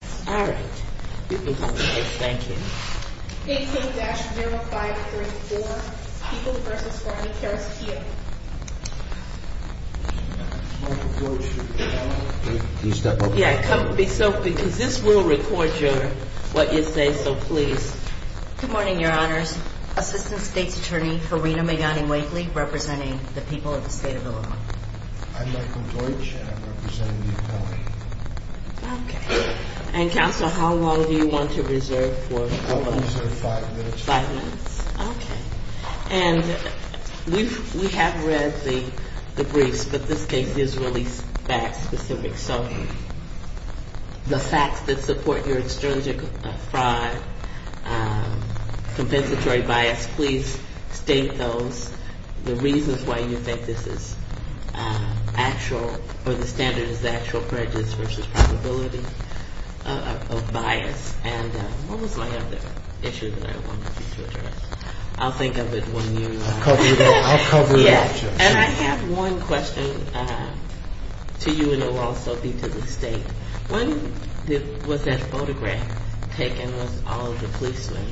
Good morning, your honors. Assistant State's Attorney Farina Magani-Wakely representing the people of the state of Illinois. I'm Michael Deutsch and I'm representing the appellate. Okay. And counsel, how long do you want to reserve for? I'll reserve five minutes. Okay. And we have read the briefs, but this case is really fact-specific. So the facts that support your extrinsic fraud, compensatory bias, please state those, the reasons why you think this is actual or the standard is the actual prejudice versus probability of bias. And what was my other issue that I wanted you to address? I'll think of it when you... I'll cover it. I'll cover it. Yes. And I have one question to you in a while, Sophie, to the state. When was that photograph taken with all of the policemen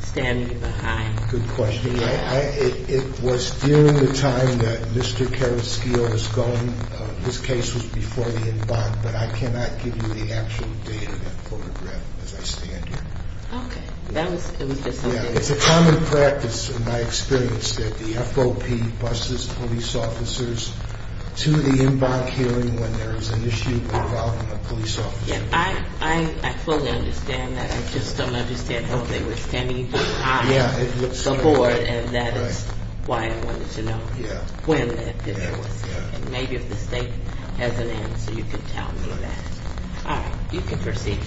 standing behind? Good question. It was during the time that Mr. Carrasquillo was gone. This case was before the en banc, but I cannot give you the actual date of that photograph as I stand here. Okay. That was... It's a common practice in my experience that the FOP buses police officers to the en banc hearing when there is an issue involving a police officer. I fully understand that. I just don't understand how they were standing behind. Yeah, it looks... The board, and that is why I wanted to know. Yeah. When it was. Yeah. And maybe if the state has an answer, you can tell me that. All right. You can proceed.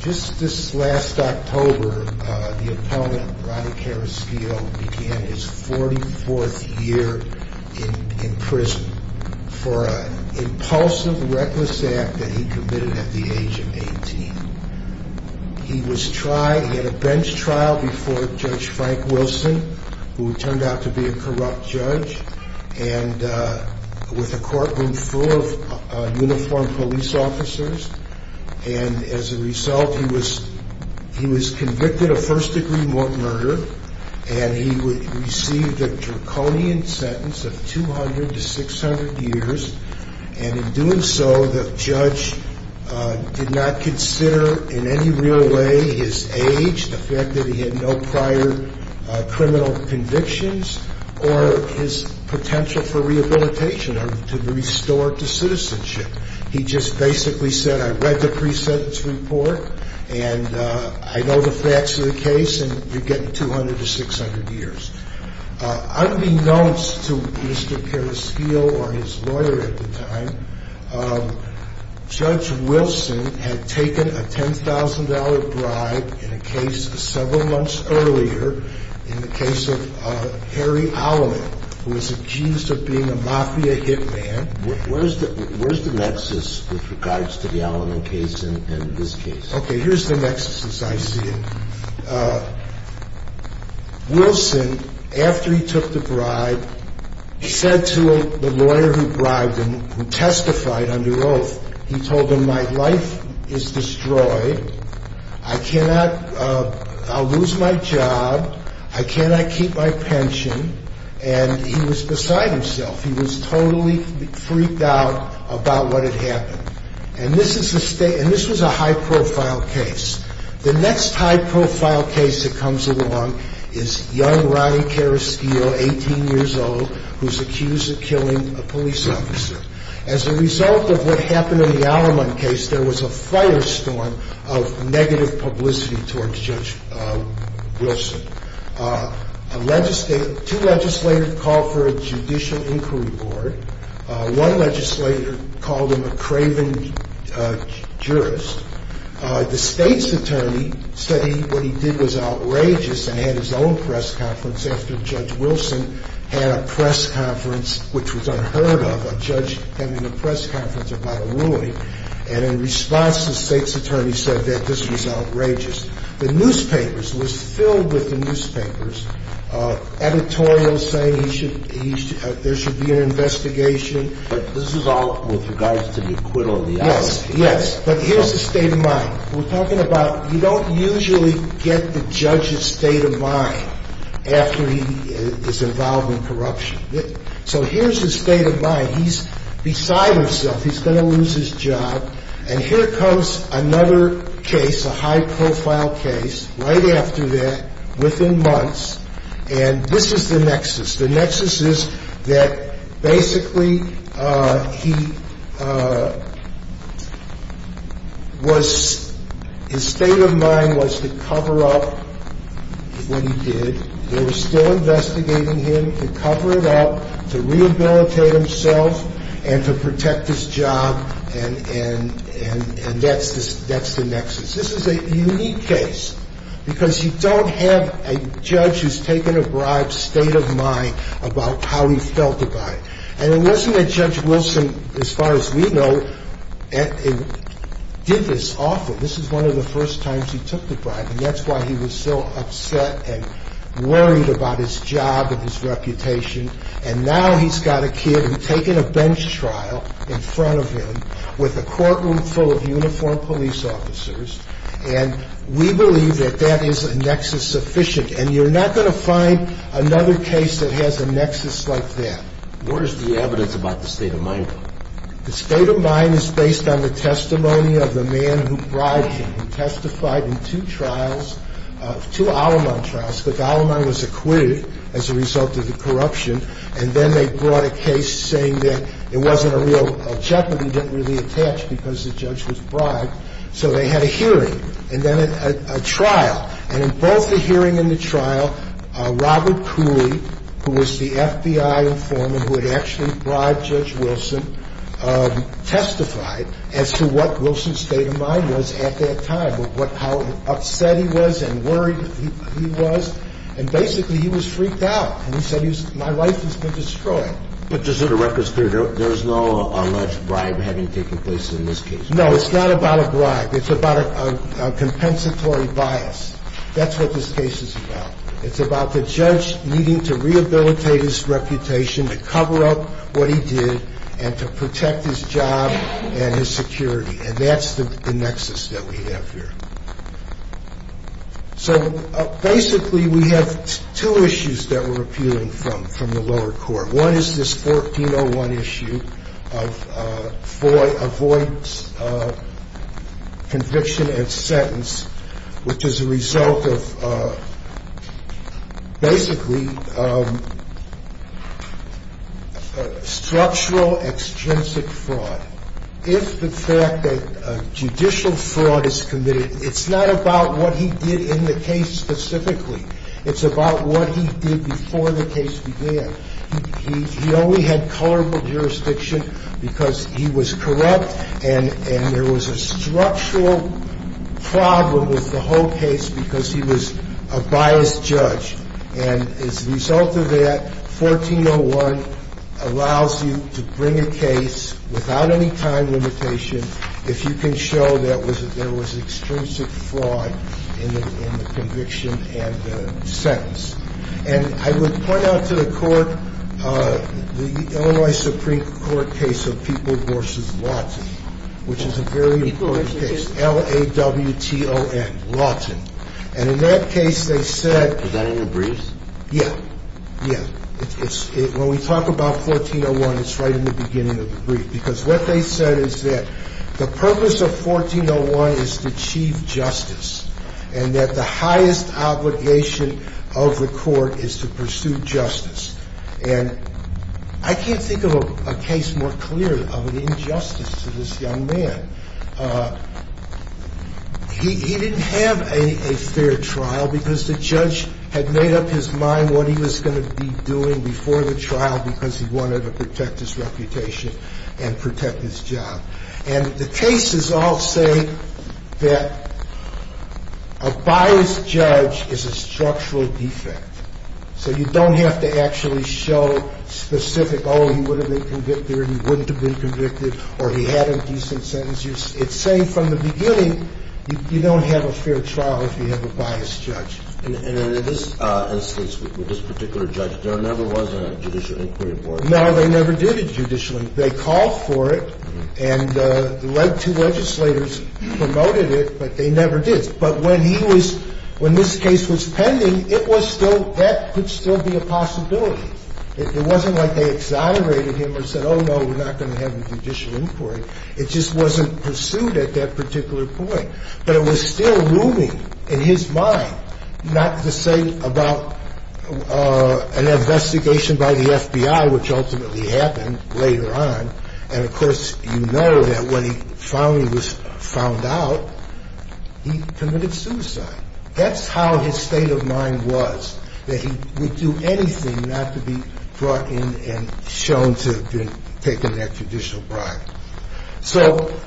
Just this last October, the opponent, Ronnie Carrasquillo, began his 44th year in prison for an impulsive, reckless act that he committed at the age of 18. He had a bench trial before Judge Frank Wilson, who turned out to be a corrupt judge, with a courtroom full of uniformed police officers. And as a result, he was convicted of first-degree murder, and he received a draconian sentence of 200 to 600 years. And in doing so, the judge did not consider in any real way his age, the fact that he had no prior criminal convictions, or his potential for rehabilitation or to restore to citizenship. He just basically said, I read the pre-sentence report, and I know the facts of the case, and you're getting 200 to 600 years. Unbeknownst to Mr. Carrasquillo or his lawyer at the time, Judge Wilson had taken a $10,000 bribe in a case several months earlier, in the case of Harry Alleman, who was accused of being a mafia hitman. Where's the nexus with regards to the Alleman case and this case? Okay, here's the nexus, as I see it. Wilson, after he took the bribe, he said to the lawyer who bribed him, who testified under oath, he told him, my life is destroyed, I'll lose my job, I cannot keep my pension, and he was beside himself. He was totally freaked out about what had happened. And this was a high-profile case. The next high-profile case that comes along is young Ronnie Carrasquillo, 18 years old, who's accused of killing a police officer. As a result of what happened in the Alleman case, there was a firestorm of negative publicity towards Judge Wilson. Two legislators called for a judicial inquiry board. One legislator called him a craven jurist. The state's attorney said what he did was outrageous and had his own press conference after Judge Wilson had a press conference, which was unheard of, a judge having a press conference about a ruling. And in response, the state's attorney said that this was outrageous. The newspapers, it was filled with the newspapers, editorials saying there should be an investigation. But this is all with regards to the acquittal of the Alleman case? Yes, but here's the state of mind. We're talking about you don't usually get the judge's state of mind after he is involved in corruption. So here's his state of mind. He's beside himself. He's going to lose his job. And here comes another case, a high-profile case, right after that, within months. And this is the nexus. The nexus is that basically he was his state of mind was to cover up what he did. They were still investigating him to cover it up, to rehabilitate himself, and to protect his job. And that's the nexus. This is a unique case because you don't have a judge who's taken a bribe's state of mind about how he felt about it. And it wasn't that Judge Wilson, as far as we know, did this often. This is one of the first times he took the bribe, and that's why he was so upset and worried about his job and his reputation. And now he's got a kid who's taken a bench trial in front of him with a courtroom full of uniformed police officers. And we believe that that is a nexus sufficient. And you're not going to find another case that has a nexus like that. What is the evidence about the state of mind? The state of mind is based on the testimony of the man who bribed him, who testified in two trials, two Al-Aman trials. The Al-Aman was acquitted as a result of the corruption. And then they brought a case saying that it wasn't a real jeopardy, didn't really attach because the judge was bribed. So they had a hearing and then a trial. And in both the hearing and the trial, Robert Cooley, who was the FBI informant who had actually bribed Judge Wilson, testified as to what Wilson's state of mind was at that time, how upset he was and worried he was. And basically he was freaked out. And he said, my life has been destroyed. But just so the record's clear, there's no alleged bribe having taken place in this case. No, it's not about a bribe. It's about a compensatory bias. That's what this case is about. It's about the judge needing to rehabilitate his reputation, to cover up what he did, and to protect his job and his security. And that's the nexus that we have here. So basically we have two issues that we're appealing from, from the lower court. One is this 1401 issue of avoid conviction and sentence, which is a result of basically structural, extrinsic fraud. If the fact that judicial fraud is committed, it's not about what he did in the case specifically. It's about what he did before the case began. He only had colorful jurisdiction because he was corrupt, and there was a structural problem with the whole case because he was a biased judge. And as a result of that, 1401 allows you to bring a case without any time limitation if you can show that there was extrinsic fraud in the conviction and the sentence. And I would point out to the court the Illinois Supreme Court case of People v. Lawton, which is a very important case. It's L-A-W-T-O-N, Lawton. And in that case, they said... Was that in the briefs? Yeah. Yeah. When we talk about 1401, it's right in the beginning of the brief. Because what they said is that the purpose of 1401 is to achieve justice, and that the highest obligation of the court is to pursue justice. And I can't think of a case more clear of an injustice to this young man. He didn't have a fair trial because the judge had made up his mind what he was going to be doing before the trial because he wanted to protect his reputation and protect his job. And the cases all say that a biased judge is a structural defect. So you don't have to actually show specific, oh, he would have been convicted or he wouldn't have been convicted or he had a decent sentence. It's saying from the beginning you don't have a fair trial if you have a biased judge. And in this instance, with this particular judge, there never was a judicial inquiry board. No, they never did it judicially. They called for it and led two legislators, promoted it, but they never did. But when he was – when this case was pending, it was still – that could still be a possibility. It wasn't like they exonerated him or said, oh, no, we're not going to have a judicial inquiry. It just wasn't pursued at that particular point. But it was still looming in his mind, not to say about an investigation by the FBI, which ultimately happened later on. And, of course, you know that when he finally was found out, he committed suicide. That's how his state of mind was, that he would do anything not to be brought in and shown to have been taken that judicial bribe. So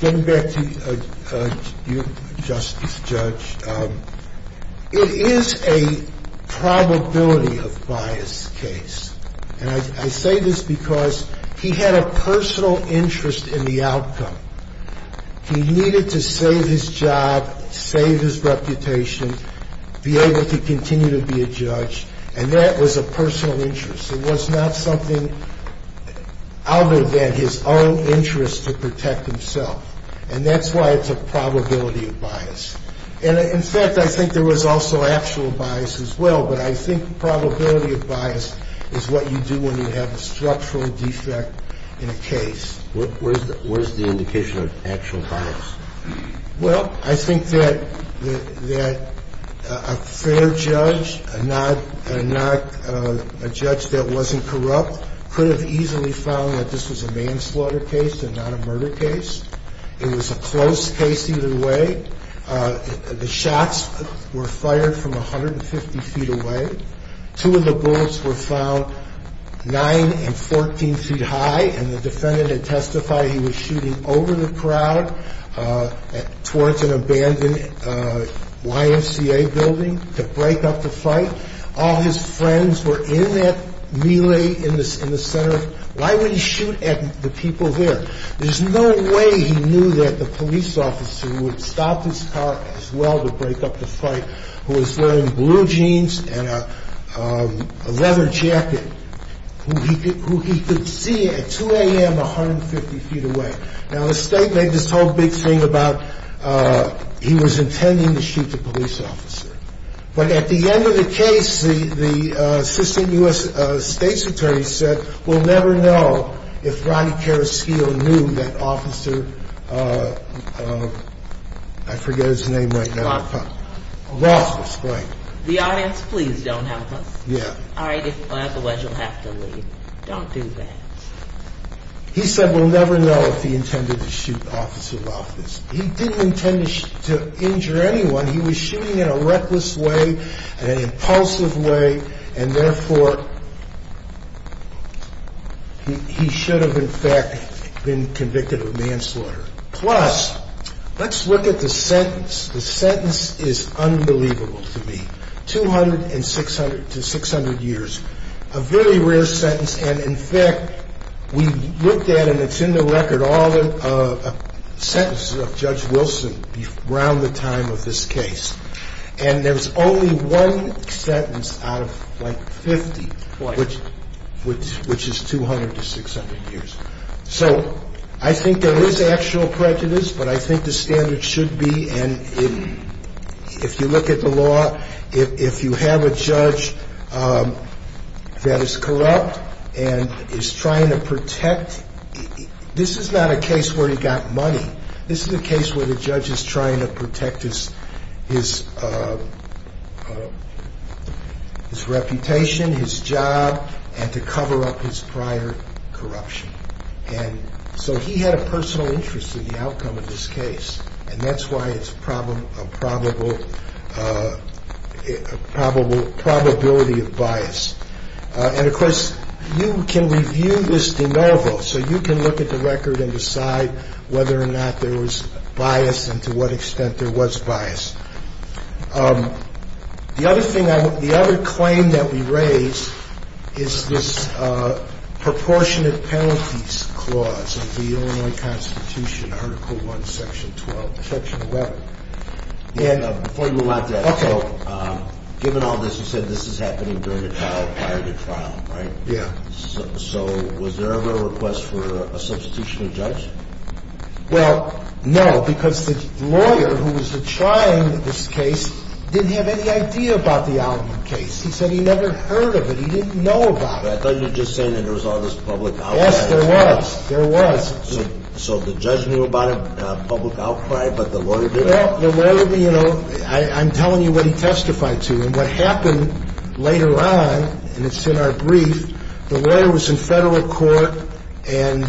getting back to you, Justice Judge, it is a probability of bias case. And I say this because he had a personal interest in the outcome. He needed to save his job, save his reputation, be able to continue to be a judge, and that was a personal interest. It was not something other than his own interest to protect himself. And that's why it's a probability of bias. And, in fact, I think there was also actual bias as well. But I think probability of bias is what you do when you have a structural defect in a case. What is the indication of actual bias? Well, I think that a fair judge, not a judge that wasn't corrupt, could have easily found that this was a manslaughter case and not a murder case. It was a close case either way. The shots were fired from 150 feet away. Two of the bullets were found 9 and 14 feet high. And the defendant had testified he was shooting over the crowd towards an abandoned YMCA building to break up the fight. All his friends were in that melee in the center. Why would he shoot at the people there? There's no way he knew that the police officer who had stopped his car as well to break up the fight, who was wearing blue jeans and a leather jacket, who he could see at 2 a.m. 150 feet away. Now, the state made this whole big thing about he was intending to shoot the police officer. But at the end of the case, the assistant U.S. state's attorney said, We'll never know if Rodney Karaskiel knew that Officer, I forget his name right now. Rothfuss. Rothfuss, right. The audience, please don't help us. Yeah. Otherwise, you'll have to leave. Don't do that. He said we'll never know if he intended to shoot Officer Rothfuss. He didn't intend to injure anyone. He was shooting in a reckless way, in an impulsive way. And therefore, he should have, in fact, been convicted of manslaughter. Plus, let's look at the sentence. The sentence is unbelievable to me. 200 to 600 years. A very rare sentence. And, in fact, we looked at, and it's in the record, all the sentences of Judge Wilson around the time of this case. And there's only one sentence out of, like, 50. Right. Which is 200 to 600 years. So I think there is actual prejudice, but I think the standard should be, and if you look at the law, if you have a judge that is corrupt and is trying to protect, this is not a case where he got money. This is a case where the judge is trying to protect his reputation, his job, and to cover up his prior corruption. And so he had a personal interest in the outcome of this case. And that's why it's a probability of bias. And, of course, you can review this de novo. So you can look at the record and decide whether or not there was bias and to what extent there was bias. The other thing, the other claim that we raised is this proportionate penalties clause of the Illinois Constitution, Article I, Section 12, Section 11. Before you move on to that. Okay. Given all this, you said this is happening during the trial, prior to trial, right? Yeah. So was there ever a request for a substitution of judge? Well, no, because the lawyer who was trying this case didn't have any idea about the Aldman case. He said he never heard of it. He didn't know about it. I thought you were just saying that there was all this public outcry. Yes, there was. There was. So the judge knew about it, public outcry, but the lawyer didn't? No, the lawyer didn't. You know, I'm telling you what he testified to. And what happened later on, and it's in our brief, the lawyer was in federal court and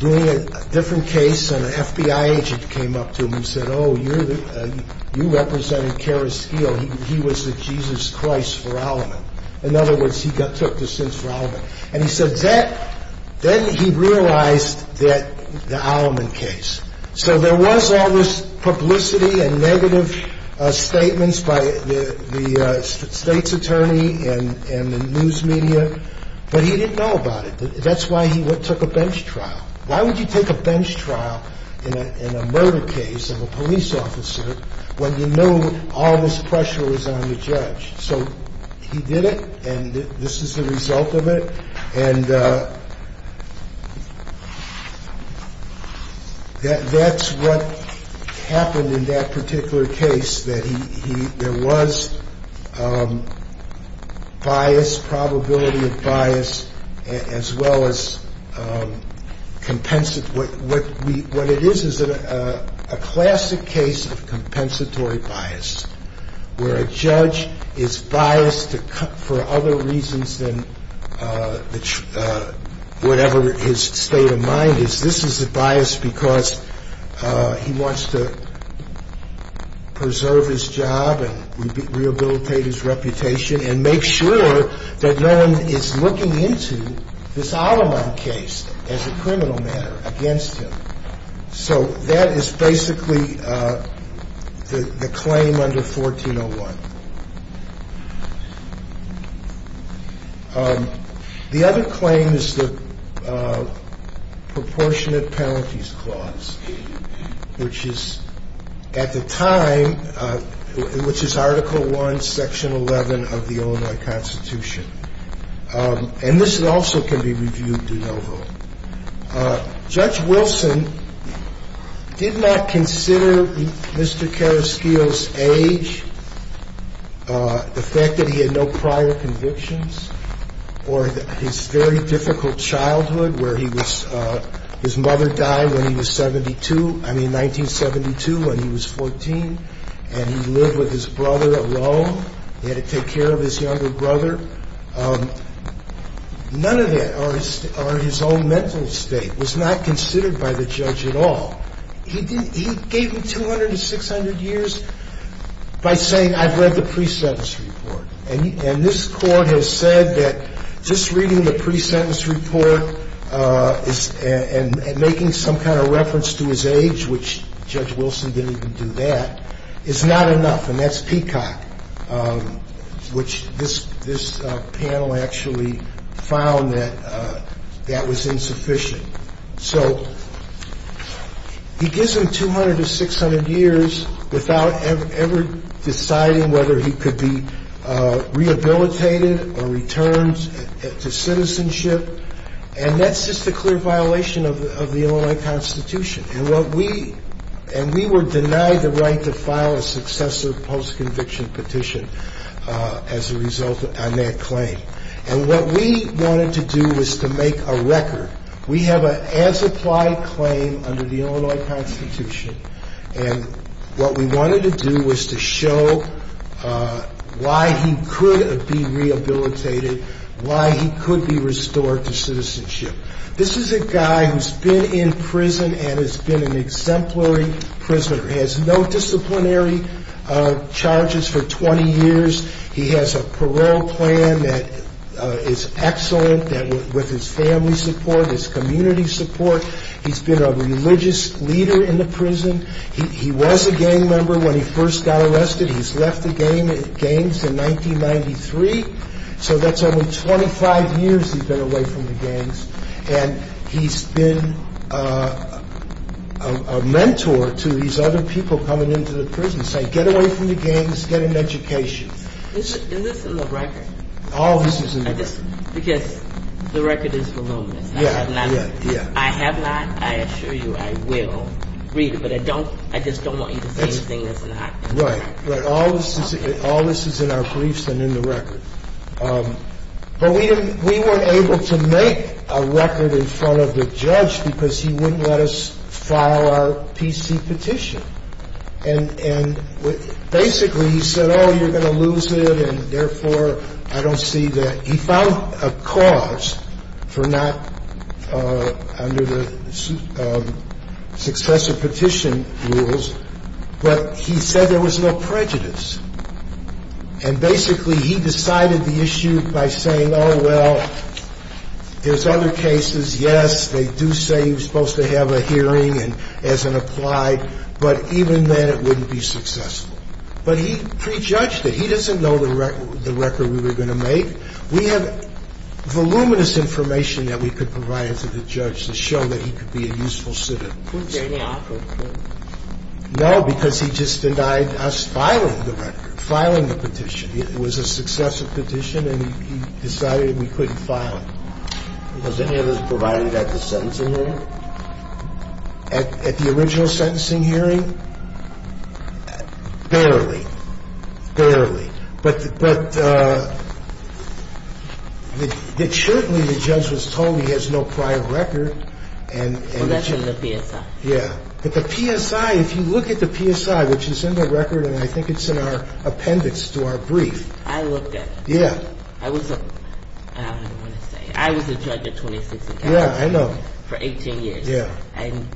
doing a different case, and an FBI agent came up to him and said, oh, you're the, you represented Kerris Skeel. He was the Jesus Christ for Aldman. In other words, he took the sins for Aldman. And he said that, then he realized that the Aldman case. So there was all this publicity and negative statements by the state's attorney and the news media, but he didn't know about it. That's why he took a bench trial. Why would you take a bench trial in a murder case of a police officer when you know all this pressure was on the judge? So he did it, and this is the result of it. And that's what happened in that particular case, that he, there was bias, probability of bias, as well as, what it is is a classic case of compensatory bias, where a judge is biased for other reasons than whatever his state of mind is. This is a bias because he wants to preserve his job and rehabilitate his reputation and make sure that no one is looking into this Aldman case as a criminal matter against him. So that is basically the claim under 1401. The other claim is the proportionate penalties clause, which is, at the time, which is Article I, Section 11 of the Illinois Constitution. And this also can be reviewed de novo. The other claim is the proportionate penalties clause, which is Article I, Section 11 of the Illinois Constitution. And this also can be reviewed de novo. Judge Wilson did not consider Mr. Carrasquillo's age, the fact that he had no prior convictions, or his very difficult childhood, where he was, his mother died when he was 72, I mean 1972, when he was 14, and he lived with his brother alone. He had to take care of his younger brother. None of that, or his own mental state, was not considered by the judge at all. He gave him 200 to 600 years by saying, I've read the precepts report. And this court has said that just reading the precepts report and making some kind of reference to his age, which Judge Wilson didn't even do that, is not enough. And that's Peacock, which this panel actually found that that was insufficient. So he gives him 200 to 600 years without ever deciding whether he could be rehabilitated or returned to citizenship. And that's just a clear violation of the Illinois Constitution. And we were denied the right to file a successor post-conviction petition as a result on that claim. And what we wanted to do was to make a record. We have an as-applied claim under the Illinois Constitution. And what we wanted to do was to show why he could be rehabilitated, why he could be restored to citizenship. This is a guy who's been in prison and has been an exemplary prisoner. He has no disciplinary charges for 20 years. He has a parole plan that is excellent with his family support, his community support. He's been a religious leader in the prison. He was a gang member when he first got arrested. He's left the gangs in 1993. So that's only 25 years he's been away from the gangs. And he's been a mentor to these other people coming into the prison. So get away from the gangs, get an education. Is this in the record? All of this is in the record. Because the record is voluminous. Yeah, yeah, yeah. I have not, I assure you I will read it. But I don't, I just don't want you to say anything that's not in the record. Right, right. All this is in our briefs and in the record. But we weren't able to make a record in front of the judge because he wouldn't let us file our PC petition. And basically he said, oh, you're going to lose it, and therefore I don't see that. He found a cause for not under the successor petition rules, but he said there was no prejudice. And basically he decided the issue by saying, oh, well, there's other cases, yes, they do say you're supposed to have a hearing as an applied, but even then it wouldn't be successful. But he prejudged it. He doesn't know the record we were going to make. We had voluminous information that we could provide to the judge to show that he could be a useful citizen. Was there any offer? No, because he just denied us filing the record, filing the petition. It was a successor petition, and he decided we couldn't file it. Was any of this provided at the sentencing hearing? At the original sentencing hearing? Barely, barely. But certainly the judge was told he has no prior record. Well, that's in the PSI. Yeah. But the PSI, if you look at the PSI, which is in the record, and I think it's in our appendix to our brief. I looked at it. Yeah. I was a, I don't even want to say, I was a judge at 26 and counting. Yeah, I know. For 18 years. Yeah. And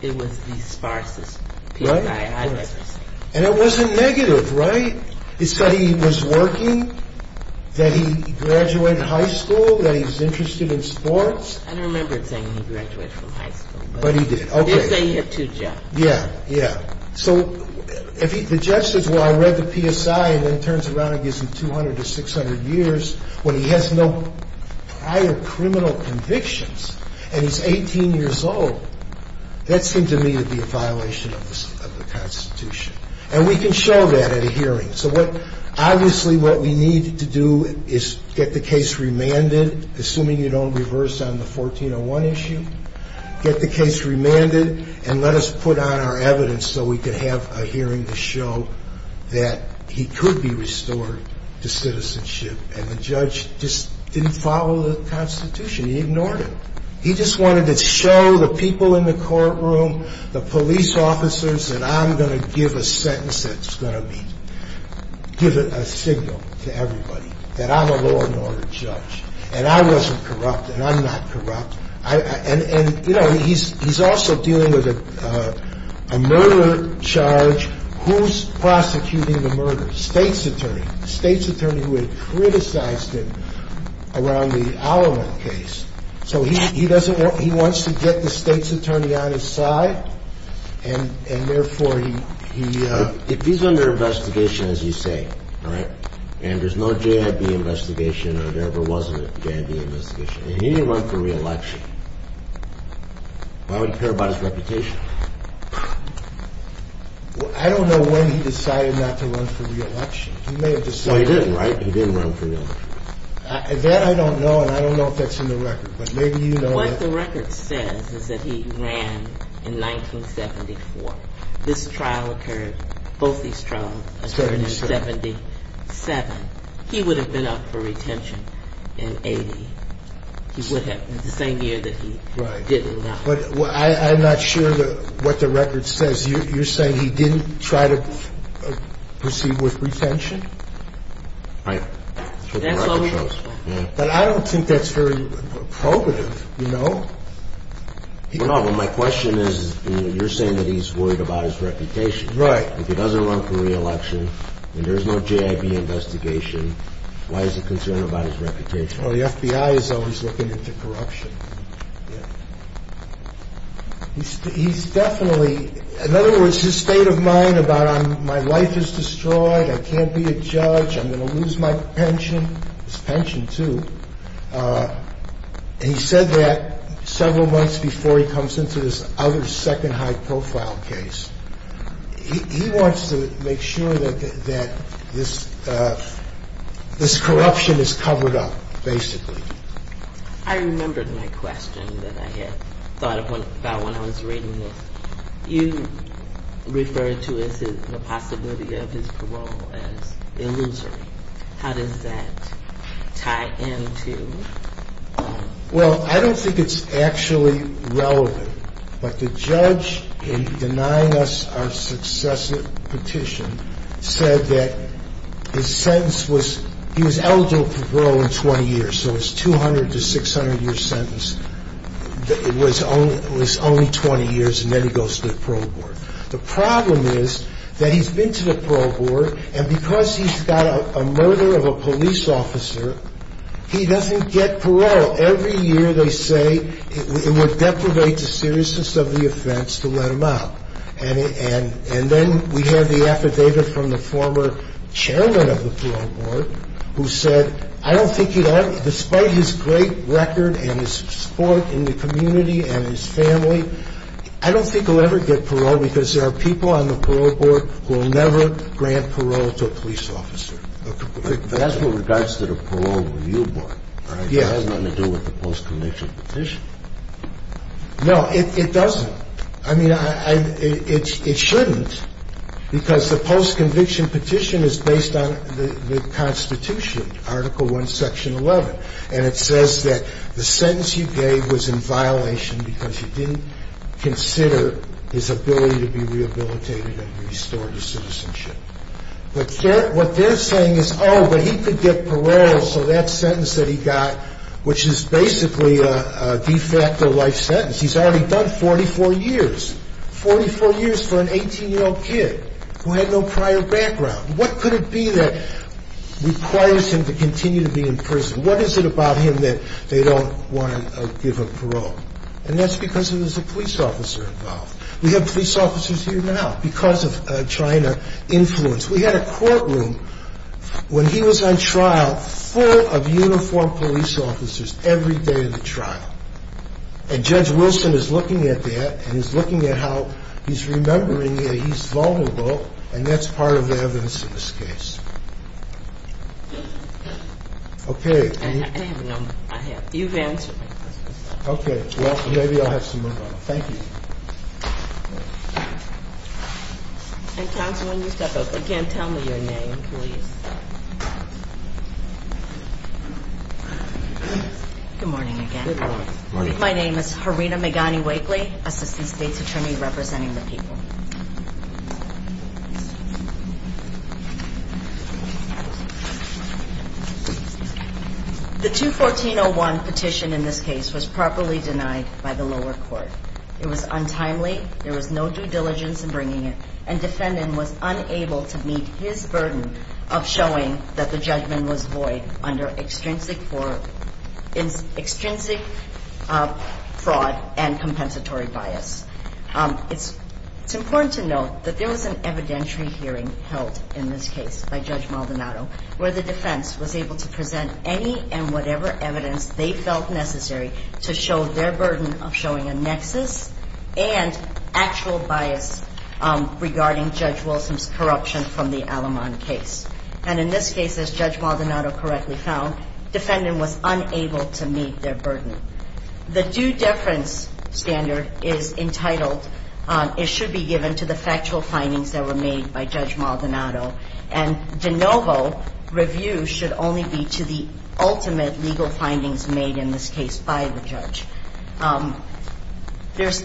it was the sparsest PSI I've ever seen. And it wasn't negative, right? It said he was working, that he graduated high school, that he was interested in sports. I don't remember it saying he graduated from high school. But he did, okay. It did say he had two jobs. Yeah, yeah. So the judge says, well, I read the PSI. And then turns around and gives him 200 to 600 years when he has no prior criminal convictions. And he's 18 years old. That seemed to me to be a violation of the Constitution. And we can show that at a hearing. So what, obviously what we need to do is get the case remanded, assuming you don't reverse on the 1401 issue. Get the case remanded. And let us put on our evidence so we can have a hearing to show that he could be restored to citizenship. And the judge just didn't follow the Constitution. He ignored it. He just wanted to show the people in the courtroom, the police officers, that I'm going to give a sentence that's going to give a signal to everybody that I'm a law and order judge. And I wasn't corrupt. And I'm not corrupt. And, you know, he's also dealing with a murder charge. Who's prosecuting the murder? State's attorney. State's attorney who had criticized him around the Alamo case. So he doesn't want he wants to get the state's attorney on his side. And therefore, he. If he's under investigation, as you say. All right. And there's no J.I.B. investigation or there ever was a J.I.B. investigation. He didn't run for re-election. Why would he care about his reputation? I don't know when he decided not to run for re-election. He may have decided. Well, he didn't, right? He didn't run for re-election. That I don't know. And I don't know if that's in the record. But maybe you know. What the record says is that he ran in 1974. This trial occurred, both these trials, occurred in 77. He would have been up for retention in 80. He would have. The same year that he didn't run. Right. But I'm not sure what the record says. You're saying he didn't try to proceed with retention? Right. That's what the record shows. But I don't think that's very probative, you know. No, but my question is, you know, you're saying that he's worried about his reputation. Right. If he doesn't run for re-election and there's no JIB investigation, why is he concerned about his reputation? Well, the FBI is always looking into corruption. Yeah. He's definitely, in other words, his state of mind about my life is destroyed, I can't be a judge, I'm going to lose my pension. It's pension too. And he said that several months before he comes into this other second high profile case. He wants to make sure that this corruption is covered up, basically. I remembered my question that I had thought about when I was reading this. You referred to the possibility of his parole as illusory. How does that tie into? Well, I don't think it's actually relevant. But the judge in denying us our successive petition said that his sentence was, he was eligible for parole in 20 years. So his 200 to 600-year sentence was only 20 years and then he goes to the parole board. The problem is that he's been to the parole board and because he's got a murder of a police officer, he doesn't get parole. Every year they say it would deprivate the seriousness of the offense to let him out. And then we have the affidavit from the former chairman of the parole board who said, I don't think he'd ever, despite his great record and his support in the community and his family, I don't think he'll ever get parole because there are people on the parole board who will never grant parole to a police officer. But that's with regards to the parole review board. It has nothing to do with the post-conviction petition. No, it doesn't. I mean, it shouldn't because the post-conviction petition is based on the Constitution, Article I, Section 11. And it says that the sentence you gave was in violation because you didn't consider his ability to be rehabilitated and restored to citizenship. But what they're saying is, oh, but he could get parole so that sentence that he got, which is basically a de facto life sentence, he's already done 44 years, 44 years for an 18-year-old kid who had no prior background. What could it be that requires him to continue to be in prison? What is it about him that they don't want to give him parole? And that's because there's a police officer involved. We have police officers here now because of China influence. We had a courtroom when he was on trial full of uniformed police officers every day of the trial. And Judge Wilson is looking at that and he's looking at how he's remembering that he's vulnerable, and that's part of the evidence in this case. Okay. I have a number. I have. You've answered my question. Okay. Well, maybe I'll have some more. Thank you. And, counsel, when you step up again, tell me your name, please. Good morning again. Good morning. My name is Harina Megani-Wakely, assistant state's attorney representing the people. The 214-01 petition in this case was properly denied by the lower court. It was untimely, there was no due diligence in bringing it, and defendant was unable to meet his burden of showing that the judgment was void under extrinsic fraud and compensatory bias. It's important to note that there was an evidentiary hearing held in this case by Judge Maldonado where the defense was able to present any and whatever evidence they felt necessary to show their burden of showing a nexus and actual bias regarding Judge Wilson's corruption from the Al-Aman case. And in this case, as Judge Maldonado correctly found, defendant was unable to meet their burden. The due deference standard is entitled, it should be given to the factual findings that were made by Judge Maldonado, and de novo review should only be to the ultimate legal findings made in this case by the judge. There's,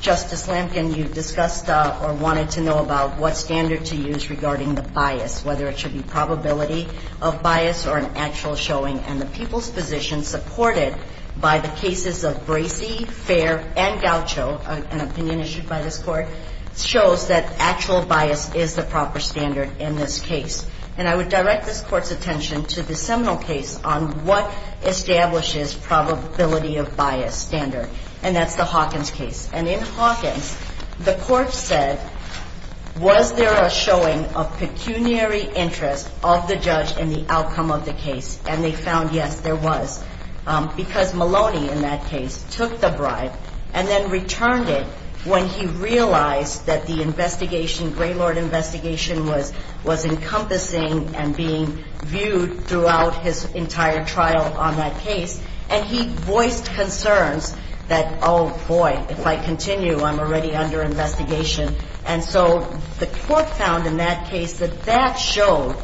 Justice Lampkin, you discussed or wanted to know about what standard to use regarding the bias, whether it should be probability of bias or an actual showing, and the people's position supported by the cases of Bracey, Fair, and Gaucho, an opinion issued by this Court, shows that actual bias is the proper standard in this case. And I would direct this Court's attention to the seminal case on what establishes probability of bias standard, and that's the Hawkins case. And in Hawkins, the Court said, was there a showing of pecuniary interest of the judge in the outcome of the case, and they found, yes, there was. Because Maloney, in that case, took the bribe and then returned it when he realized that the investigation, Graylord investigation was encompassing and being viewed throughout his entire trial on that case, and he voiced concerns that, oh, boy, if I continue, I'm already under investigation. And so the Court found in that case that that showed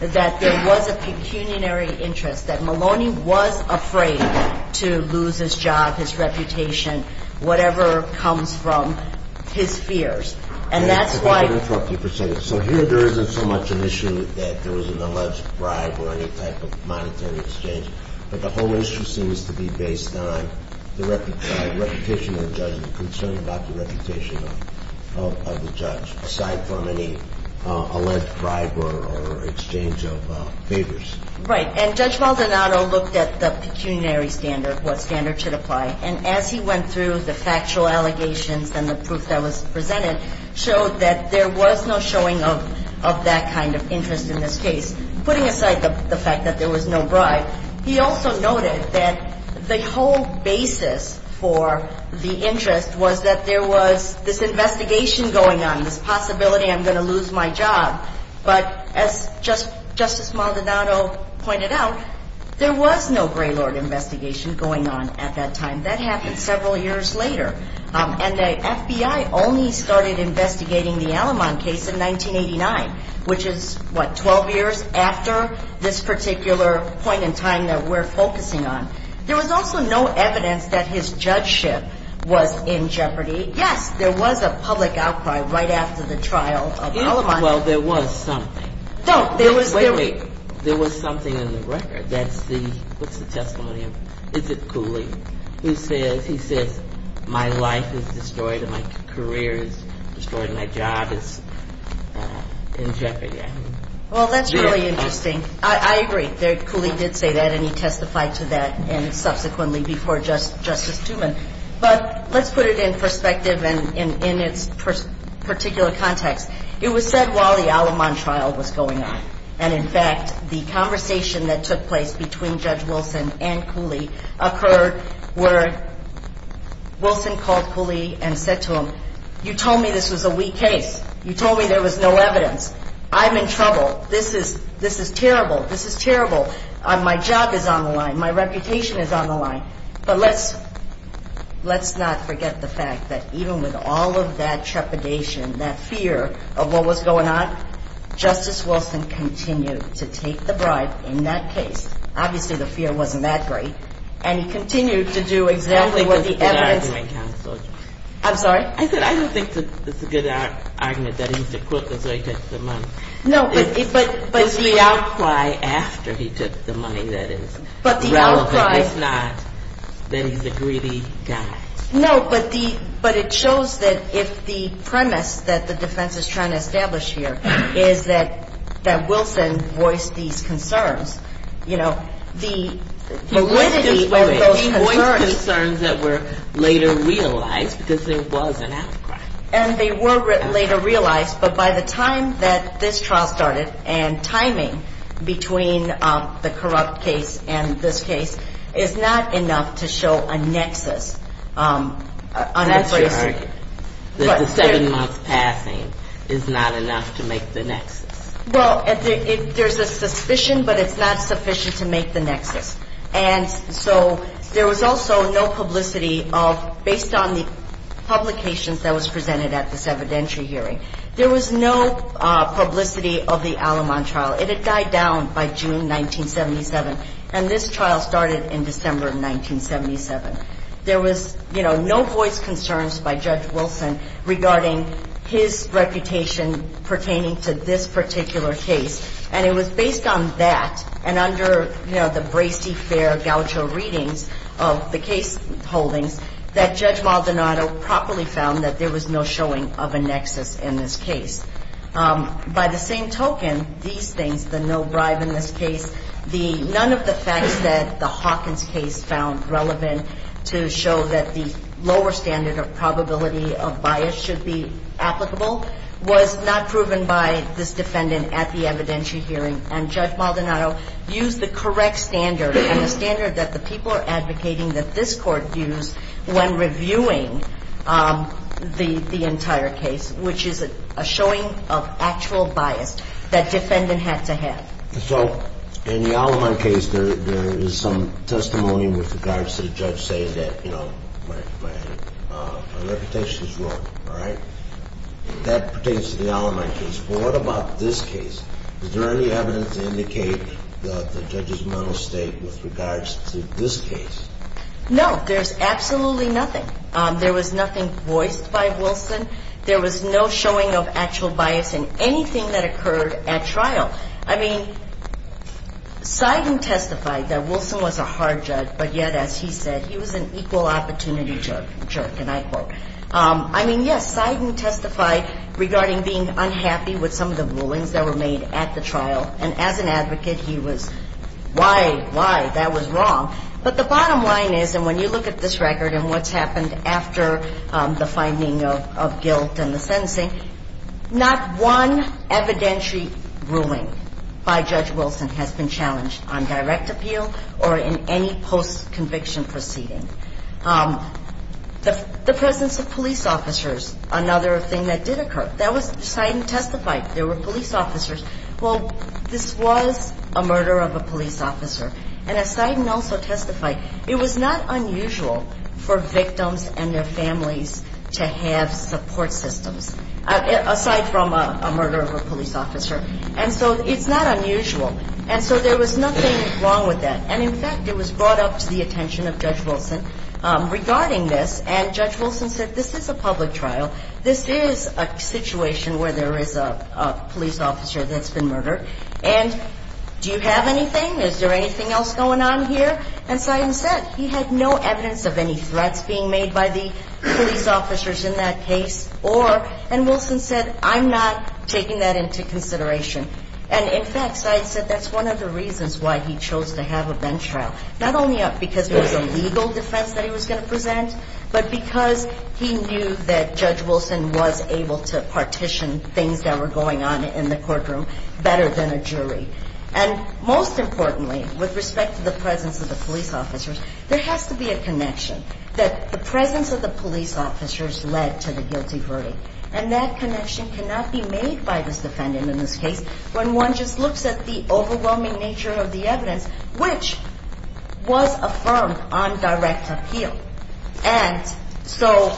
that there was a pecuniary interest, that Maloney was afraid to lose his job, his reputation, whatever comes from his fears. And that's why — So here there isn't so much an issue that there was an alleged bribe or any type of monetary exchange, but the whole issue seems to be based on the reputation of the judge, the concern about the reputation of the judge, aside from any alleged bribe or exchange of favors. Right. And Judge Maldonado looked at the pecuniary standard, what standard should apply. And as he went through the factual allegations and the proof that was presented, showed that there was no showing of that kind of interest in this case. Putting aside the fact that there was no bribe, he also noted that the whole basis for the interest was that there was this investigation going on, this possibility I'm going to lose my job. But as Justice Maldonado pointed out, there was no Graylord investigation going on at that time. That happened several years later. And the FBI only started investigating the Alamond case in 1989, which is, what, 12 years after this particular point in time that we're focusing on. There was also no evidence that his judgeship was in jeopardy. Yes, there was a public outcry right after the trial of Alamond. Well, there was something. Don't. Wait, wait. There was something in the record. That's the — what's the testimony? Is it Cooley? Who says — he says, my life is destroyed and my career is destroyed and my job is in jeopardy. Well, that's really interesting. I agree. Cooley did say that and he testified to that and subsequently before Justice Duman. But let's put it in perspective and in its particular context. It was said while the Alamond trial was going on. And, in fact, the conversation that took place between Judge Wilson and Cooley occurred where Wilson called Cooley and said to him, you told me this was a weak case. You told me there was no evidence. I'm in trouble. This is terrible. This is terrible. My job is on the line. My reputation is on the line. But let's not forget the fact that even with all of that trepidation, that fear of what was going on, Justice Wilson continued to take the bribe in that case. Obviously, the fear wasn't that great. And he continued to do exactly what the evidence — I don't think that's a good argument, Counsel. I'm sorry? I said I don't think that's a good argument that he's a crook. That's why he took the money. No, but — It was the outcry after he took the money that is relevant. It's not that he's a greedy guy. No, but it shows that if the premise that the defense is trying to establish here is that Wilson voiced these concerns, you know, the validity of those concerns — He voiced concerns that were later realized because there was an outcry. And they were later realized. But by the time that this trial started and timing between the corrupt case and this case is not enough to show a nexus. That's your argument, that the seven-month passing is not enough to make the nexus. Well, there's a suspicion, but it's not sufficient to make the nexus. And so there was also no publicity of — based on the publications that was presented at this evidentiary hearing. There was no publicity of the Alamon trial. It had died down by June 1977. And this trial started in December of 1977. There was, you know, no voiced concerns by Judge Wilson regarding his reputation pertaining to this particular case. And it was based on that and under, you know, the brasty, fair, gaucho readings of the case holdings that Judge Maldonado properly found that there was no showing of a nexus in this case. By the same token, these things, the no bribe in this case, the — none of the facts that the Hawkins case found relevant to show that the lower standard of probability of bias should be applicable, was not proven by this defendant at the evidentiary hearing. And Judge Maldonado used the correct standard and the standard that the people are advocating that this Court use when reviewing the entire case, which is a showing of actual bias that defendant had to have. So in the Alamon case, there is some testimony with regards to the judge saying that, you know, my reputation is wrong, all right? That pertains to the Alamon case. Well, what about this case? Is there any evidence to indicate the judge's mental state with regards to this case? No, there's absolutely nothing. There was nothing voiced by Wilson. I mean, Seiden testified that Wilson was a hard judge, but yet, as he said, he was an equal opportunity jerk, and I quote. I mean, yes, Seiden testified regarding being unhappy with some of the rulings that were made at the trial. And as an advocate, he was, why, why? That was wrong. But the bottom line is, and when you look at this record and what's happened after the finding of guilt and the sentencing, not one evidentiary ruling by Judge Wilson has been challenged on direct appeal or in any post-conviction proceeding. The presence of police officers, another thing that did occur. That was Seiden testified. There were police officers. Well, this was a murder of a police officer. And as Seiden also testified, it was not unusual for victims and their families to have support systems, aside from a murder of a police officer. And so it's not unusual. And so there was nothing wrong with that. And, in fact, it was brought up to the attention of Judge Wilson regarding this. And Judge Wilson said, this is a public trial. This is a situation where there is a police officer that's been murdered. And do you have anything? Is there anything else going on here? And Seiden said he had no evidence of any threats being made by the police officers in that case. Or, and Wilson said, I'm not taking that into consideration. And, in fact, Seiden said that's one of the reasons why he chose to have a bench trial. Not only because it was a legal defense that he was going to present, but because he knew that Judge Wilson was able to partition things that were going on in the courtroom better than a jury. And, most importantly, with respect to the presence of the police officers, there has to be a connection that the presence of the police officers led to the guilty verdict. And that connection cannot be made by this defendant in this case when one just looks at the overwhelming nature of the evidence, which was affirmed on direct appeal. And so,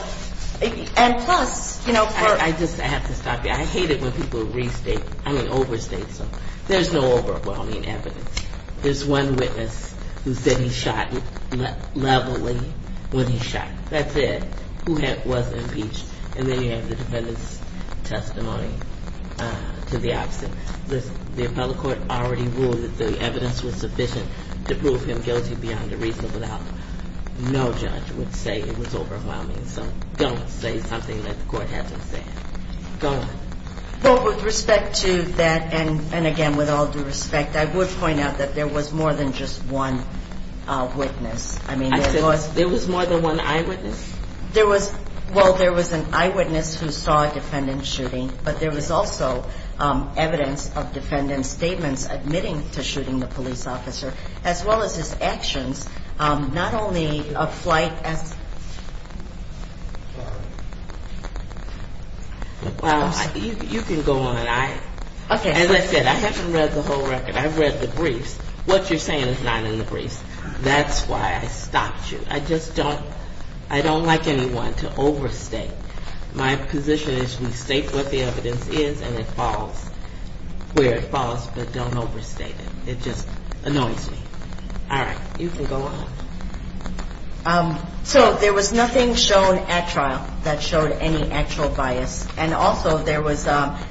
and plus, you know, for ‑‑ I just, I have to stop you. I hate it when people restate, I mean overstate something. There's no overwhelming evidence. There's one witness who said he shot Levely when he shot. That's it. Who was impeached. And then you have the defendant's testimony to the opposite. The appellate court already ruled that the evidence was sufficient to prove him guilty beyond a reasonable doubt. No judge would say it was overwhelming. So don't say something that the court hasn't said. Go on. Well, with respect to that, and again, with all due respect, I would point out that there was more than just one witness. I said there was more than one eyewitness? There was, well, there was an eyewitness who saw a defendant shooting, but there was also evidence of defendant's statements admitting to shooting the police officer, as well as his actions, not only of flight. You can go on. As I said, I haven't read the whole record. I've read the briefs. What you're saying is not in the briefs. That's why I stopped you. I just don't like anyone to overstate. My position is we state what the evidence is and it falls where it falls, but don't overstate it. It just annoys me. All right. You can go on. So there was nothing shown at trial that showed any actual bias. And also there was,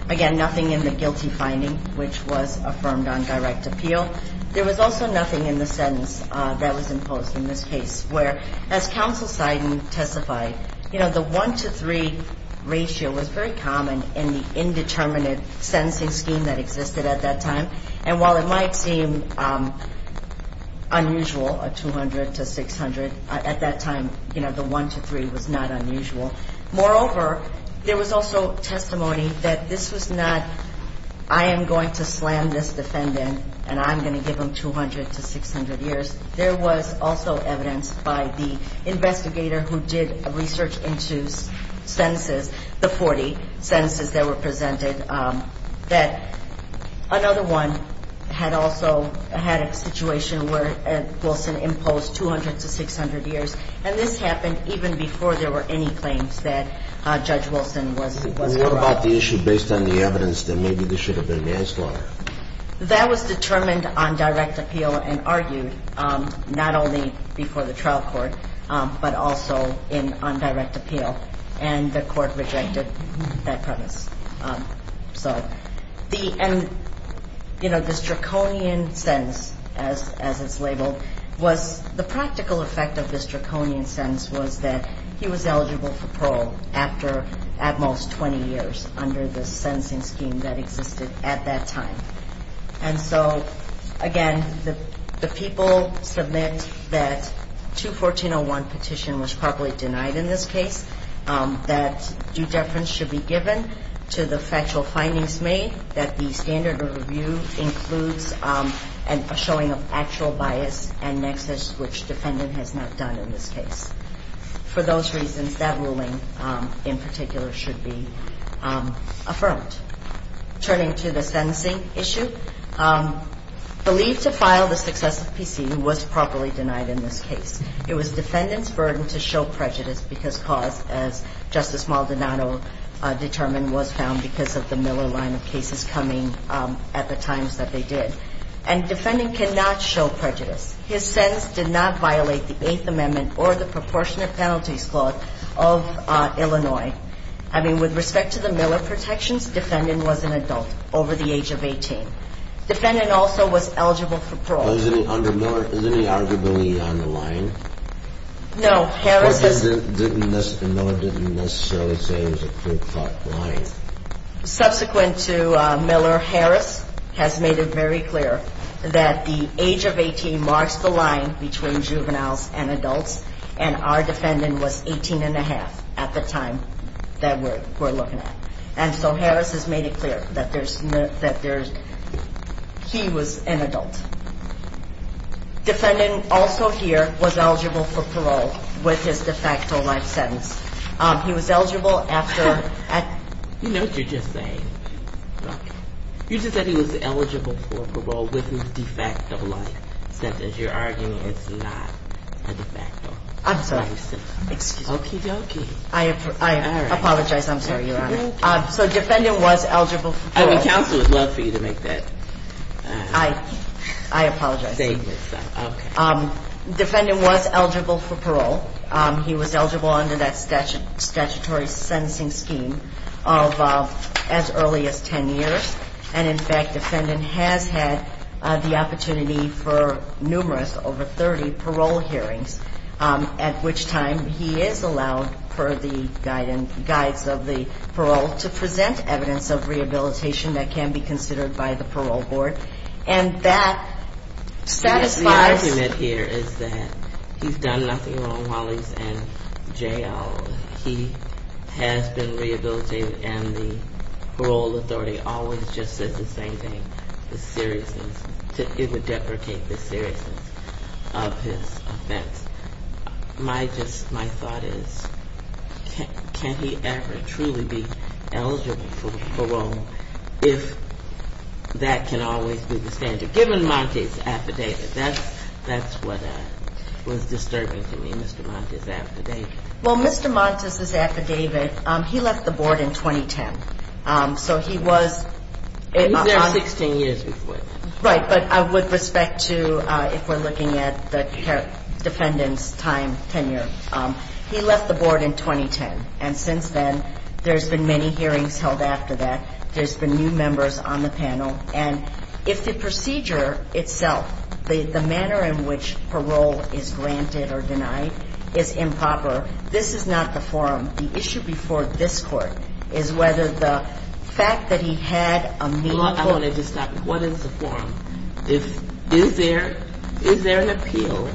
again, nothing in the guilty finding, which was affirmed on direct appeal. There was also nothing in the sentence that was imposed in this case where, as counsel Seiden testified, you know, the 1 to 3 ratio was very common in the indeterminate sentencing scheme that existed at that time. And while it might seem unusual, a 200 to 600, at that time, you know, the 1 to 3 was not unusual. Moreover, there was also testimony that this was not I am going to slam this defendant and I'm going to give him 200 to 600 years. There was also evidence by the investigator who did research into sentences, the 40 sentences that were presented, that another one had also had a situation where Wilson imposed 200 to 600 years. And this happened even before there were any claims that Judge Wilson was corrupt. What about the issue based on the evidence that maybe this should have been manslaughter? That was determined on direct appeal and argued not only before the trial court, but also in on direct appeal. And the court rejected that premise. And, you know, this draconian sentence, as it's labeled, was the practical effect of this draconian sentence was that he was eligible for parole after at most 20 years under the sentencing scheme that existed at that time. And so, again, the people submit that 214.01 petition was properly denied in this case, that due deference should be given to the factual findings made, that the standard of review includes a showing of actual bias and nexus, which defendant has not done in this case. For those reasons, that ruling in particular should be affirmed. Turning to the sentencing issue, believed to file the successive PC was properly denied in this case. It was defendant's burden to show prejudice because cause, as Justice Maldonado determined, was found because of the Miller line of cases coming at the times that they did. And defendant cannot show prejudice. His sentence did not violate the Eighth Amendment or the Proportionate Penalties Clause of Illinois. I mean, with respect to the Miller protections, defendant was an adult over the age of 18. Defendant also was eligible for parole. Under Miller, is there any eligibility on the line? No. Miller didn't necessarily say it was a clear-cut line. Subsequent to Miller, Harris has made it very clear that the age of 18 marks the line between juveniles and adults, and our defendant was 18 and a half at the time that we're looking at. And so Harris has made it clear that there's no – that there's – he was an adult. Defendant also here was eligible for parole with his de facto life sentence. He was eligible after – You know what you're just saying. You just said he was eligible for parole with his de facto life sentence. You're arguing it's not a de facto life sentence. I'm sorry. Excuse me. Okey-dokey. I apologize. I'm sorry, Your Honor. So defendant was eligible for parole. I mean, counsel would love for you to make that statement. I apologize. Okay. Defendant was eligible for parole. He was eligible under that statutory sentencing scheme of as early as 10 years. And, in fact, defendant has had the opportunity for numerous, over 30, parole hearings, at which time he is allowed, per the guides of the parole, to present evidence of rehabilitation that can be considered by the parole board. And that satisfies – He has been rehabilitated and the parole authority always just says the same thing, the seriousness. It would deprecate the seriousness of his offense. My thought is, can he ever truly be eligible for parole if that can always be the standard? Given Montes' affidavit, that's what was disturbing to me, Mr. Montes' affidavit. Well, Mr. Montes' affidavit, he left the board in 2010. So he was – He was there 16 years before that. Right. But with respect to, if we're looking at the defendant's time tenure, he left the board in 2010. And since then, there's been many hearings held after that. There's been new members on the panel. And if the procedure itself, the manner in which parole is granted or denied, is improper, this is not the forum. The issue before this Court is whether the fact that he had a meaningful – I want to just stop. What is the forum? Is there an appeal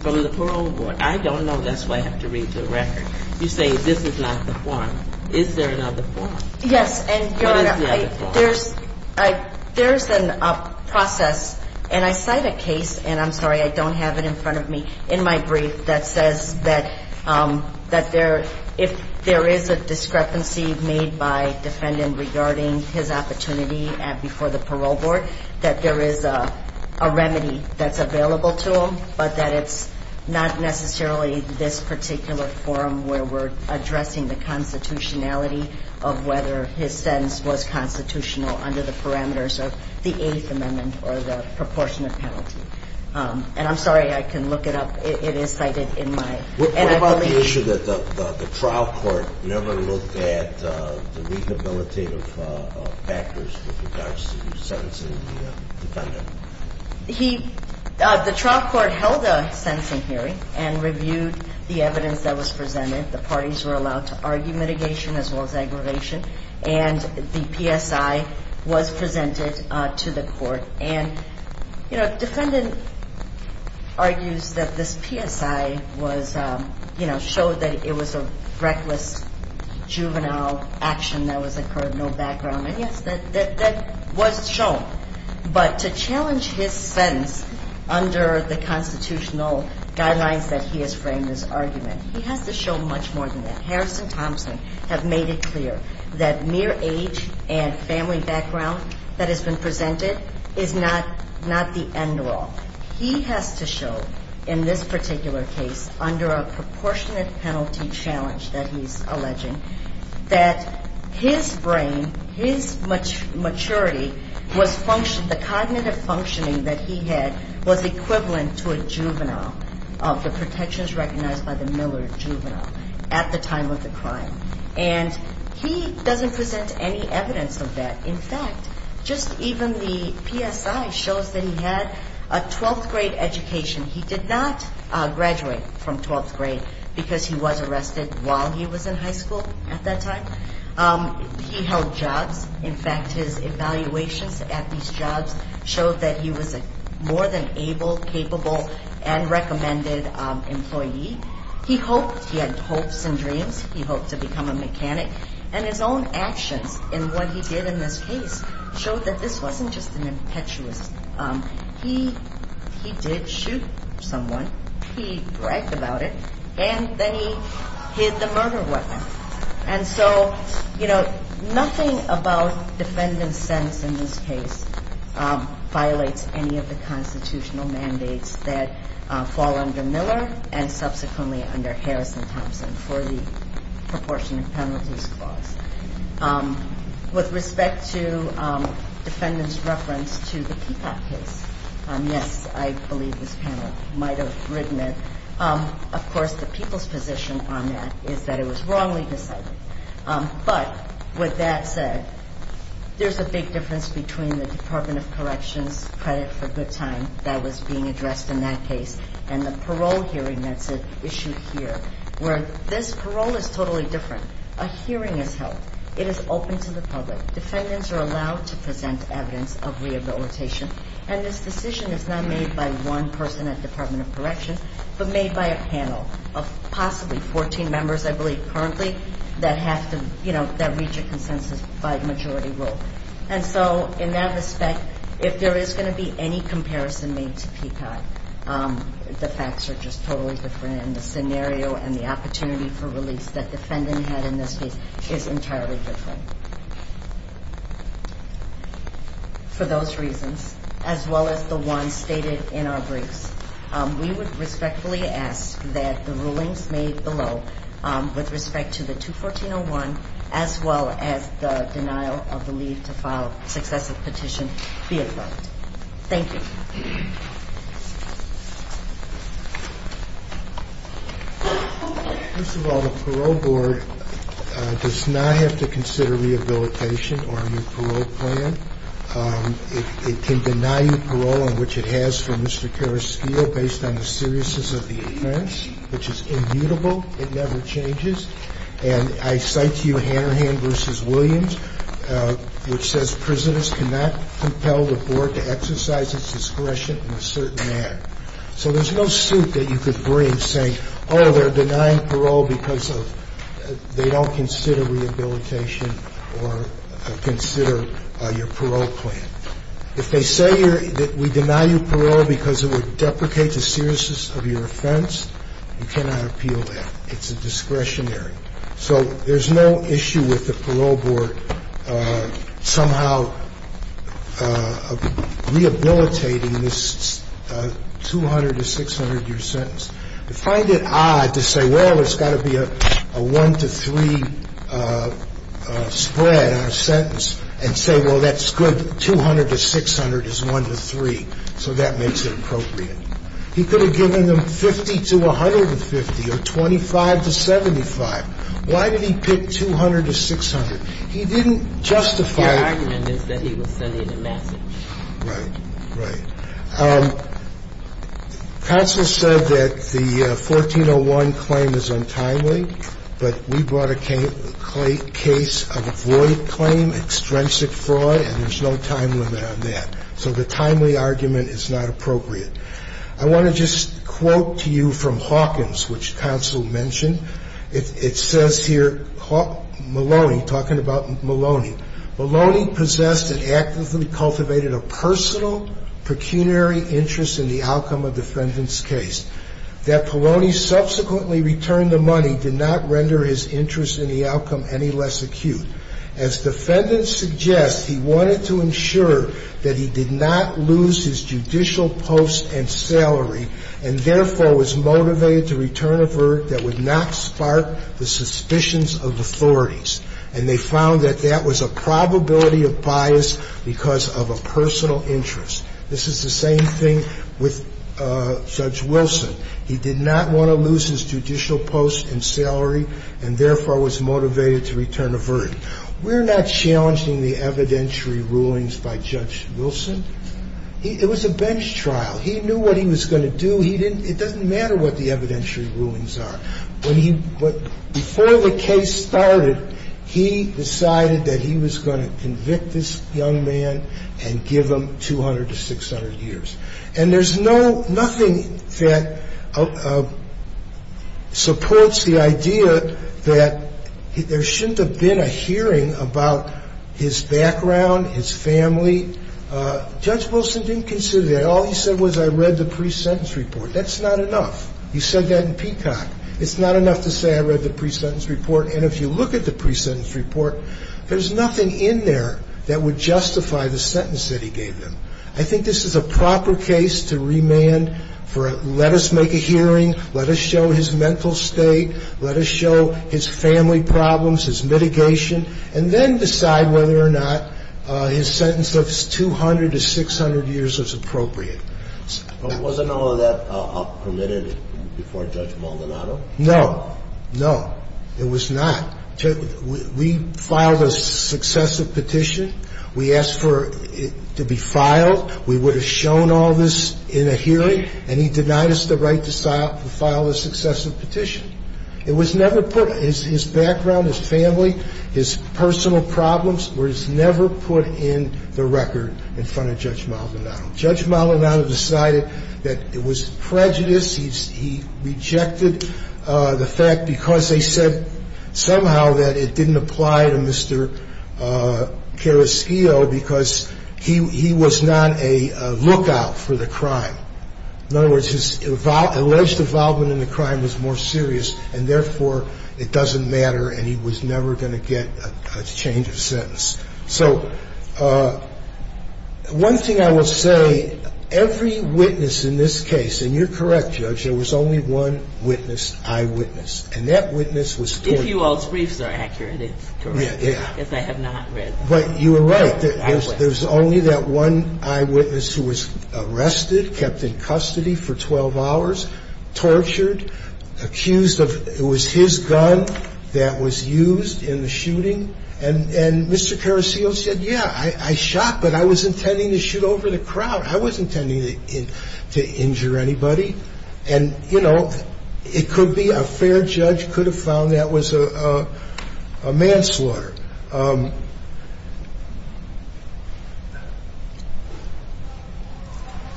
from the parole board? I don't know. That's why I have to read the record. You say this is not the forum. Is there another forum? Yes. And, Your Honor, I – What is the other forum? There's – there's a process, and I cite a case – and I'm sorry, I don't have it in front of me – in my brief that says that if there is a discrepancy made by defendant regarding his opportunity before the parole board, that there is a remedy that's available to him, but that it's not necessarily this particular forum where we're addressing the constitutionality of whether his sentence was constitutional under the parameters of the Eighth Amendment or the proportionate penalty. And I'm sorry, I can look it up. It is cited in my – and I believe – What about the issue that the trial court never looked at the rehabilitative factors with regards to sentencing the defendant? He – the trial court held a sentencing hearing and reviewed the evidence that was presented. The parties were allowed to argue mitigation as well as aggravation. And the PSI was presented to the court. And, you know, the defendant argues that this PSI was – you know, showed that it was a reckless juvenile action that was occurred, no background. And, yes, that was shown. But to challenge his sentence under the constitutional guidelines that he has framed his argument, he has to show much more than that. Harrison Thompson have made it clear that mere age and family background that has been presented is not the end all. He has to show in this particular case under a proportionate penalty challenge that he's alleging that his brain, his maturity was – the cognitive functioning that he had was equivalent to a juvenile of the protections recognized by the Miller juvenile at the time of the crime. And he doesn't present any evidence of that. In fact, just even the PSI shows that he had a 12th grade education. He did not graduate from 12th grade because he was arrested while he was in high school at that time. He held jobs. In fact, his evaluations at these jobs showed that he was a more than able, capable, and recommended employee. He had hopes and dreams. He hoped to become a mechanic. And his own actions in what he did in this case showed that this wasn't just an impetuous. He did shoot someone. He bragged about it. And then he hid the murder weapon. And so, you know, nothing about defendant's sense in this case violates any of the constitutional mandates that fall under Miller and subsequently under Harrison-Thompson for the proportionate penalties clause. With respect to defendant's reference to the Peacock case, yes, I believe this panel might have written it. Of course, the people's position on that is that it was wrongly decided. But with that said, there's a big difference between the Department of Corrections credit for good time that was being addressed in that case and the parole hearing that's issued here, where this parole is totally different. A hearing is held. It is open to the public. Defendants are allowed to present evidence of rehabilitation. And this decision is not made by one person at Department of Corrections, but made by a panel of possibly 14 members, I believe, currently, that have to, you know, that reach a consensus by majority rule. And so in that respect, if there is going to be any comparison made to Peacock, the facts are just totally different. And the scenario and the opportunity for release that defendant had in this case is entirely different. For those reasons, as well as the ones stated in our briefs, we would respectfully ask that the rulings made below with respect to the 214-01, as well as the denial of the leave to file successive petition, be approved. Thank you. First of all, the Parole Board does not have to consider rehabilitation or a new parole plan. It can deny you parole, which it has for Mr. Carrasquillo, based on the seriousness of the offense, which is immutable. It never changes. And I cite to you Hanrahan v. Williams, which says, Prisoners cannot compel the Board to exercise its discretion in a certain manner. So there's no suit that you could bring saying, oh, they're denying parole because they don't consider rehabilitation or consider your parole plan. If they say that we deny you parole because it would deprecate the seriousness of your offense, you cannot appeal that. It's a discretionary. So there's no issue with the Parole Board somehow rehabilitating this 200-to-600-year sentence. I find it odd to say, well, it's got to be a 1-to-3 spread on a sentence and say, well, that's good. 200-to-600 is 1-to-3, so that makes it appropriate. And I think that's a good argument. I think that's a good argument. I think that's a good argument. He could have given them 50-to-150 or 25-to-75. Why did he pick 200-to-600? He didn't justify it. Your argument is that he was sending a message. Right. Right. Counsel said that the 1401 claim is untimely, but we brought a case of a void claim, extrinsic fraud, and there's no time limit on that. So the timely argument is not appropriate. I want to just quote to you from Hawkins, which counsel mentioned. It says here, Maloney, talking about Maloney, Maloney possessed and actively cultivated a personal pecuniary interest in the outcome of defendant's case. That Maloney subsequently returned the money did not render his interest in the outcome any less acute. As defendant suggests, he wanted to ensure that he did not lose his judicial post and salary and, therefore, was motivated to return a verdict that would not spark the suspicions of authorities. And they found that that was a probability of bias because of a personal interest. This is the same thing with Judge Wilson. He did not want to lose his judicial post and salary and, therefore, was motivated to return a verdict. We're not challenging the evidentiary rulings by Judge Wilson. It was a bench trial. He knew what he was going to do. It doesn't matter what the evidentiary rulings are. He was going to convict this young man and give him 200 to 600 years. And there's no ñ nothing that supports the idea that there shouldn't have been a hearing about his background, his family. Judge Wilson didn't consider that. All he said was I read the pre-sentence report. That's not enough. He said that in Peacock. It's not enough to say I read the pre-sentence report. And if you look at the pre-sentence report, there's nothing in there that would justify the sentence that he gave him. I think this is a proper case to remand for let us make a hearing, let us show his mental state, let us show his family problems, his mitigation, and then decide whether or not his sentence of 200 to 600 years was appropriate. Wasn't all of that permitted before Judge Maldonado? No. No, it was not. We filed a successive petition. We asked for it to be filed. We would have shown all this in a hearing, and he denied us the right to file a successive petition. It was never put ñ his background, his family, his personal problems ñ were never put in the record in front of Judge Maldonado. Judge Maldonado decided that it was prejudice. He rejected the fact because they said somehow that it didn't apply to Mr. Caraschio because he was not a lookout for the crime. In other words, his alleged involvement in the crime was more serious, and therefore it doesn't matter and he was never going to get a change of sentence. So one thing I will say, every witness in this case ñ and you're correct, Judge, there was only one witness, eyewitness, and that witness was ñ If you all's briefs are accurate, it's correct. Yeah. Yes, I have not read them. But you were right. There was only that one eyewitness who was arrested, kept in custody for 12 hours, tortured, accused of ñ it was his gun that was used in the shooting. And Mr. Caraschio said, yeah, I shot, but I was intending to shoot over the crowd. I wasn't intending to injure anybody. And, you know, it could be a fair judge could have found that was a manslaughter.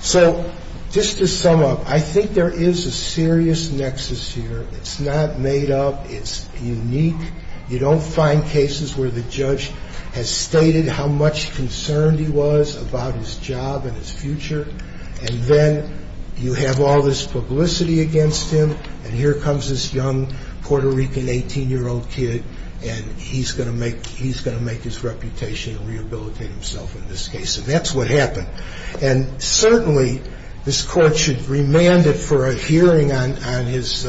So just to sum up, I think there is a serious nexus here. It's not made up. It's unique. You don't find cases where the judge has stated how much concerned he was about his job and his future, and then you have all this publicity against him, and here comes this young Puerto Rican 18-year-old kid, and he's going to make his reputation and rehabilitate himself in this case. And that's what happened. And certainly this Court should remand it for a hearing on his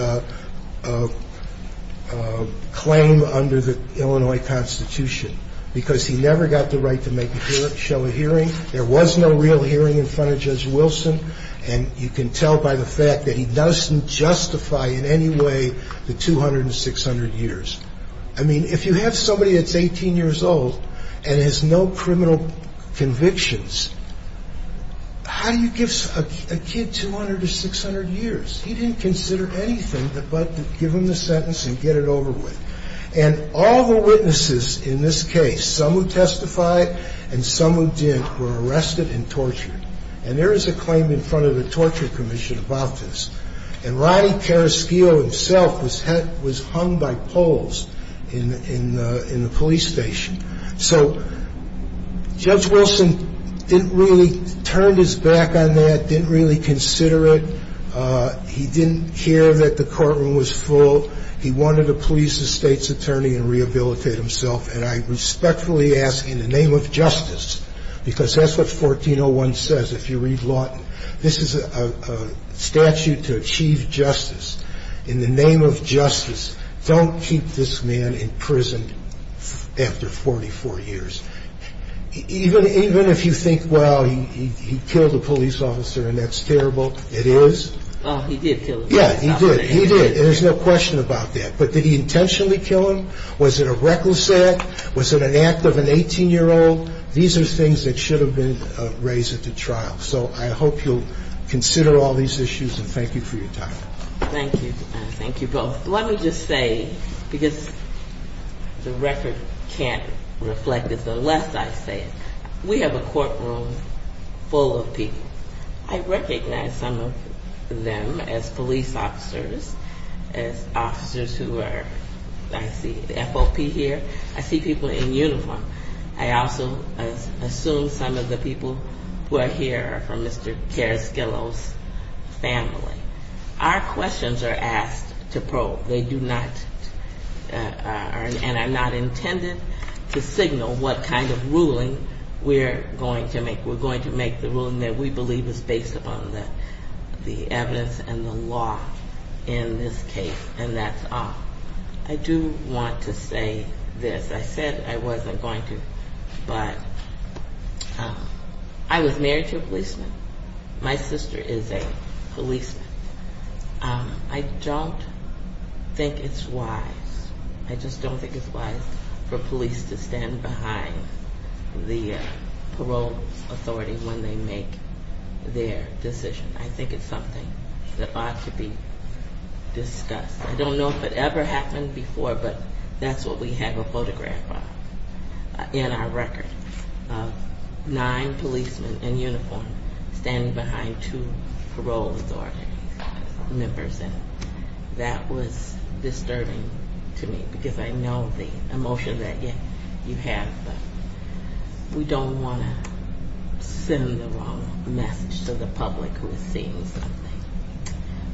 claim under the Illinois Constitution because he never got the right to make a show of hearing. There was no real hearing in front of Judge Wilson, and you can tell by the fact that he doesn't justify in any way the 200 and 600 years. I mean, if you have somebody that's 18 years old and has no criminal convictions, how do you give a kid 200 or 600 years? He didn't consider anything but to give him the sentence and get it over with. And all the witnesses in this case, some who testified and some who didn't, were arrested and tortured. And there is a claim in front of the Torture Commission about this. And Rodney Periskeo himself was hung by poles in the police station. So Judge Wilson didn't really turn his back on that, didn't really consider it. He didn't care that the courtroom was full. He wanted to please the state's attorney and rehabilitate himself, and I respectfully ask in the name of justice, because that's what 1401 says, if you read Lawton. This is a statute to achieve justice. In the name of justice, don't keep this man in prison after 44 years. Even if you think, well, he killed a police officer and that's terrible, it is. He did kill him. Yeah, he did. He did. There's no question about that. But did he intentionally kill him? Was it a recalcitrant? Was it an act of an 18-year-old? These are things that should have been raised at the trial. So I hope you'll consider all these issues and thank you for your time. Thank you. Thank you both. Let me just say, because the record can't reflect it unless I say it, we have a courtroom full of people. I recognize some of them as police officers, as officers who are, I see the FOP here. I see people in uniform. I also assume some of the people who are here are from Mr. Carrasquillo's family. Our questions are asked to probe. They do not, and are not intended to signal what kind of ruling we're going to make. We're going to make the ruling that we believe is based upon the evidence and the law in this case, and that's all. I do want to say this. I said I wasn't going to, but I was married to a policeman. My sister is a policeman. I don't think it's wise. I just don't think it's wise for police to stand behind the parole authority when they make their decision. I think it's something that ought to be discussed. I don't know if it ever happened before, but that's what we have a photograph of in our record, nine policemen in uniform standing behind two parole authority members, and that was disturbing to me because I know the emotion that you have, but we don't want to send the wrong message to the public who is seeing something.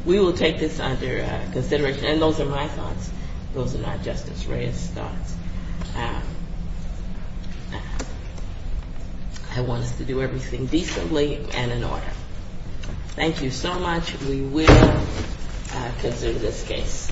We will take this under consideration, and those are my thoughts. Those are not Justice Reyes' thoughts. I want us to do everything decently and in order. Thank you so much. We will consider this case.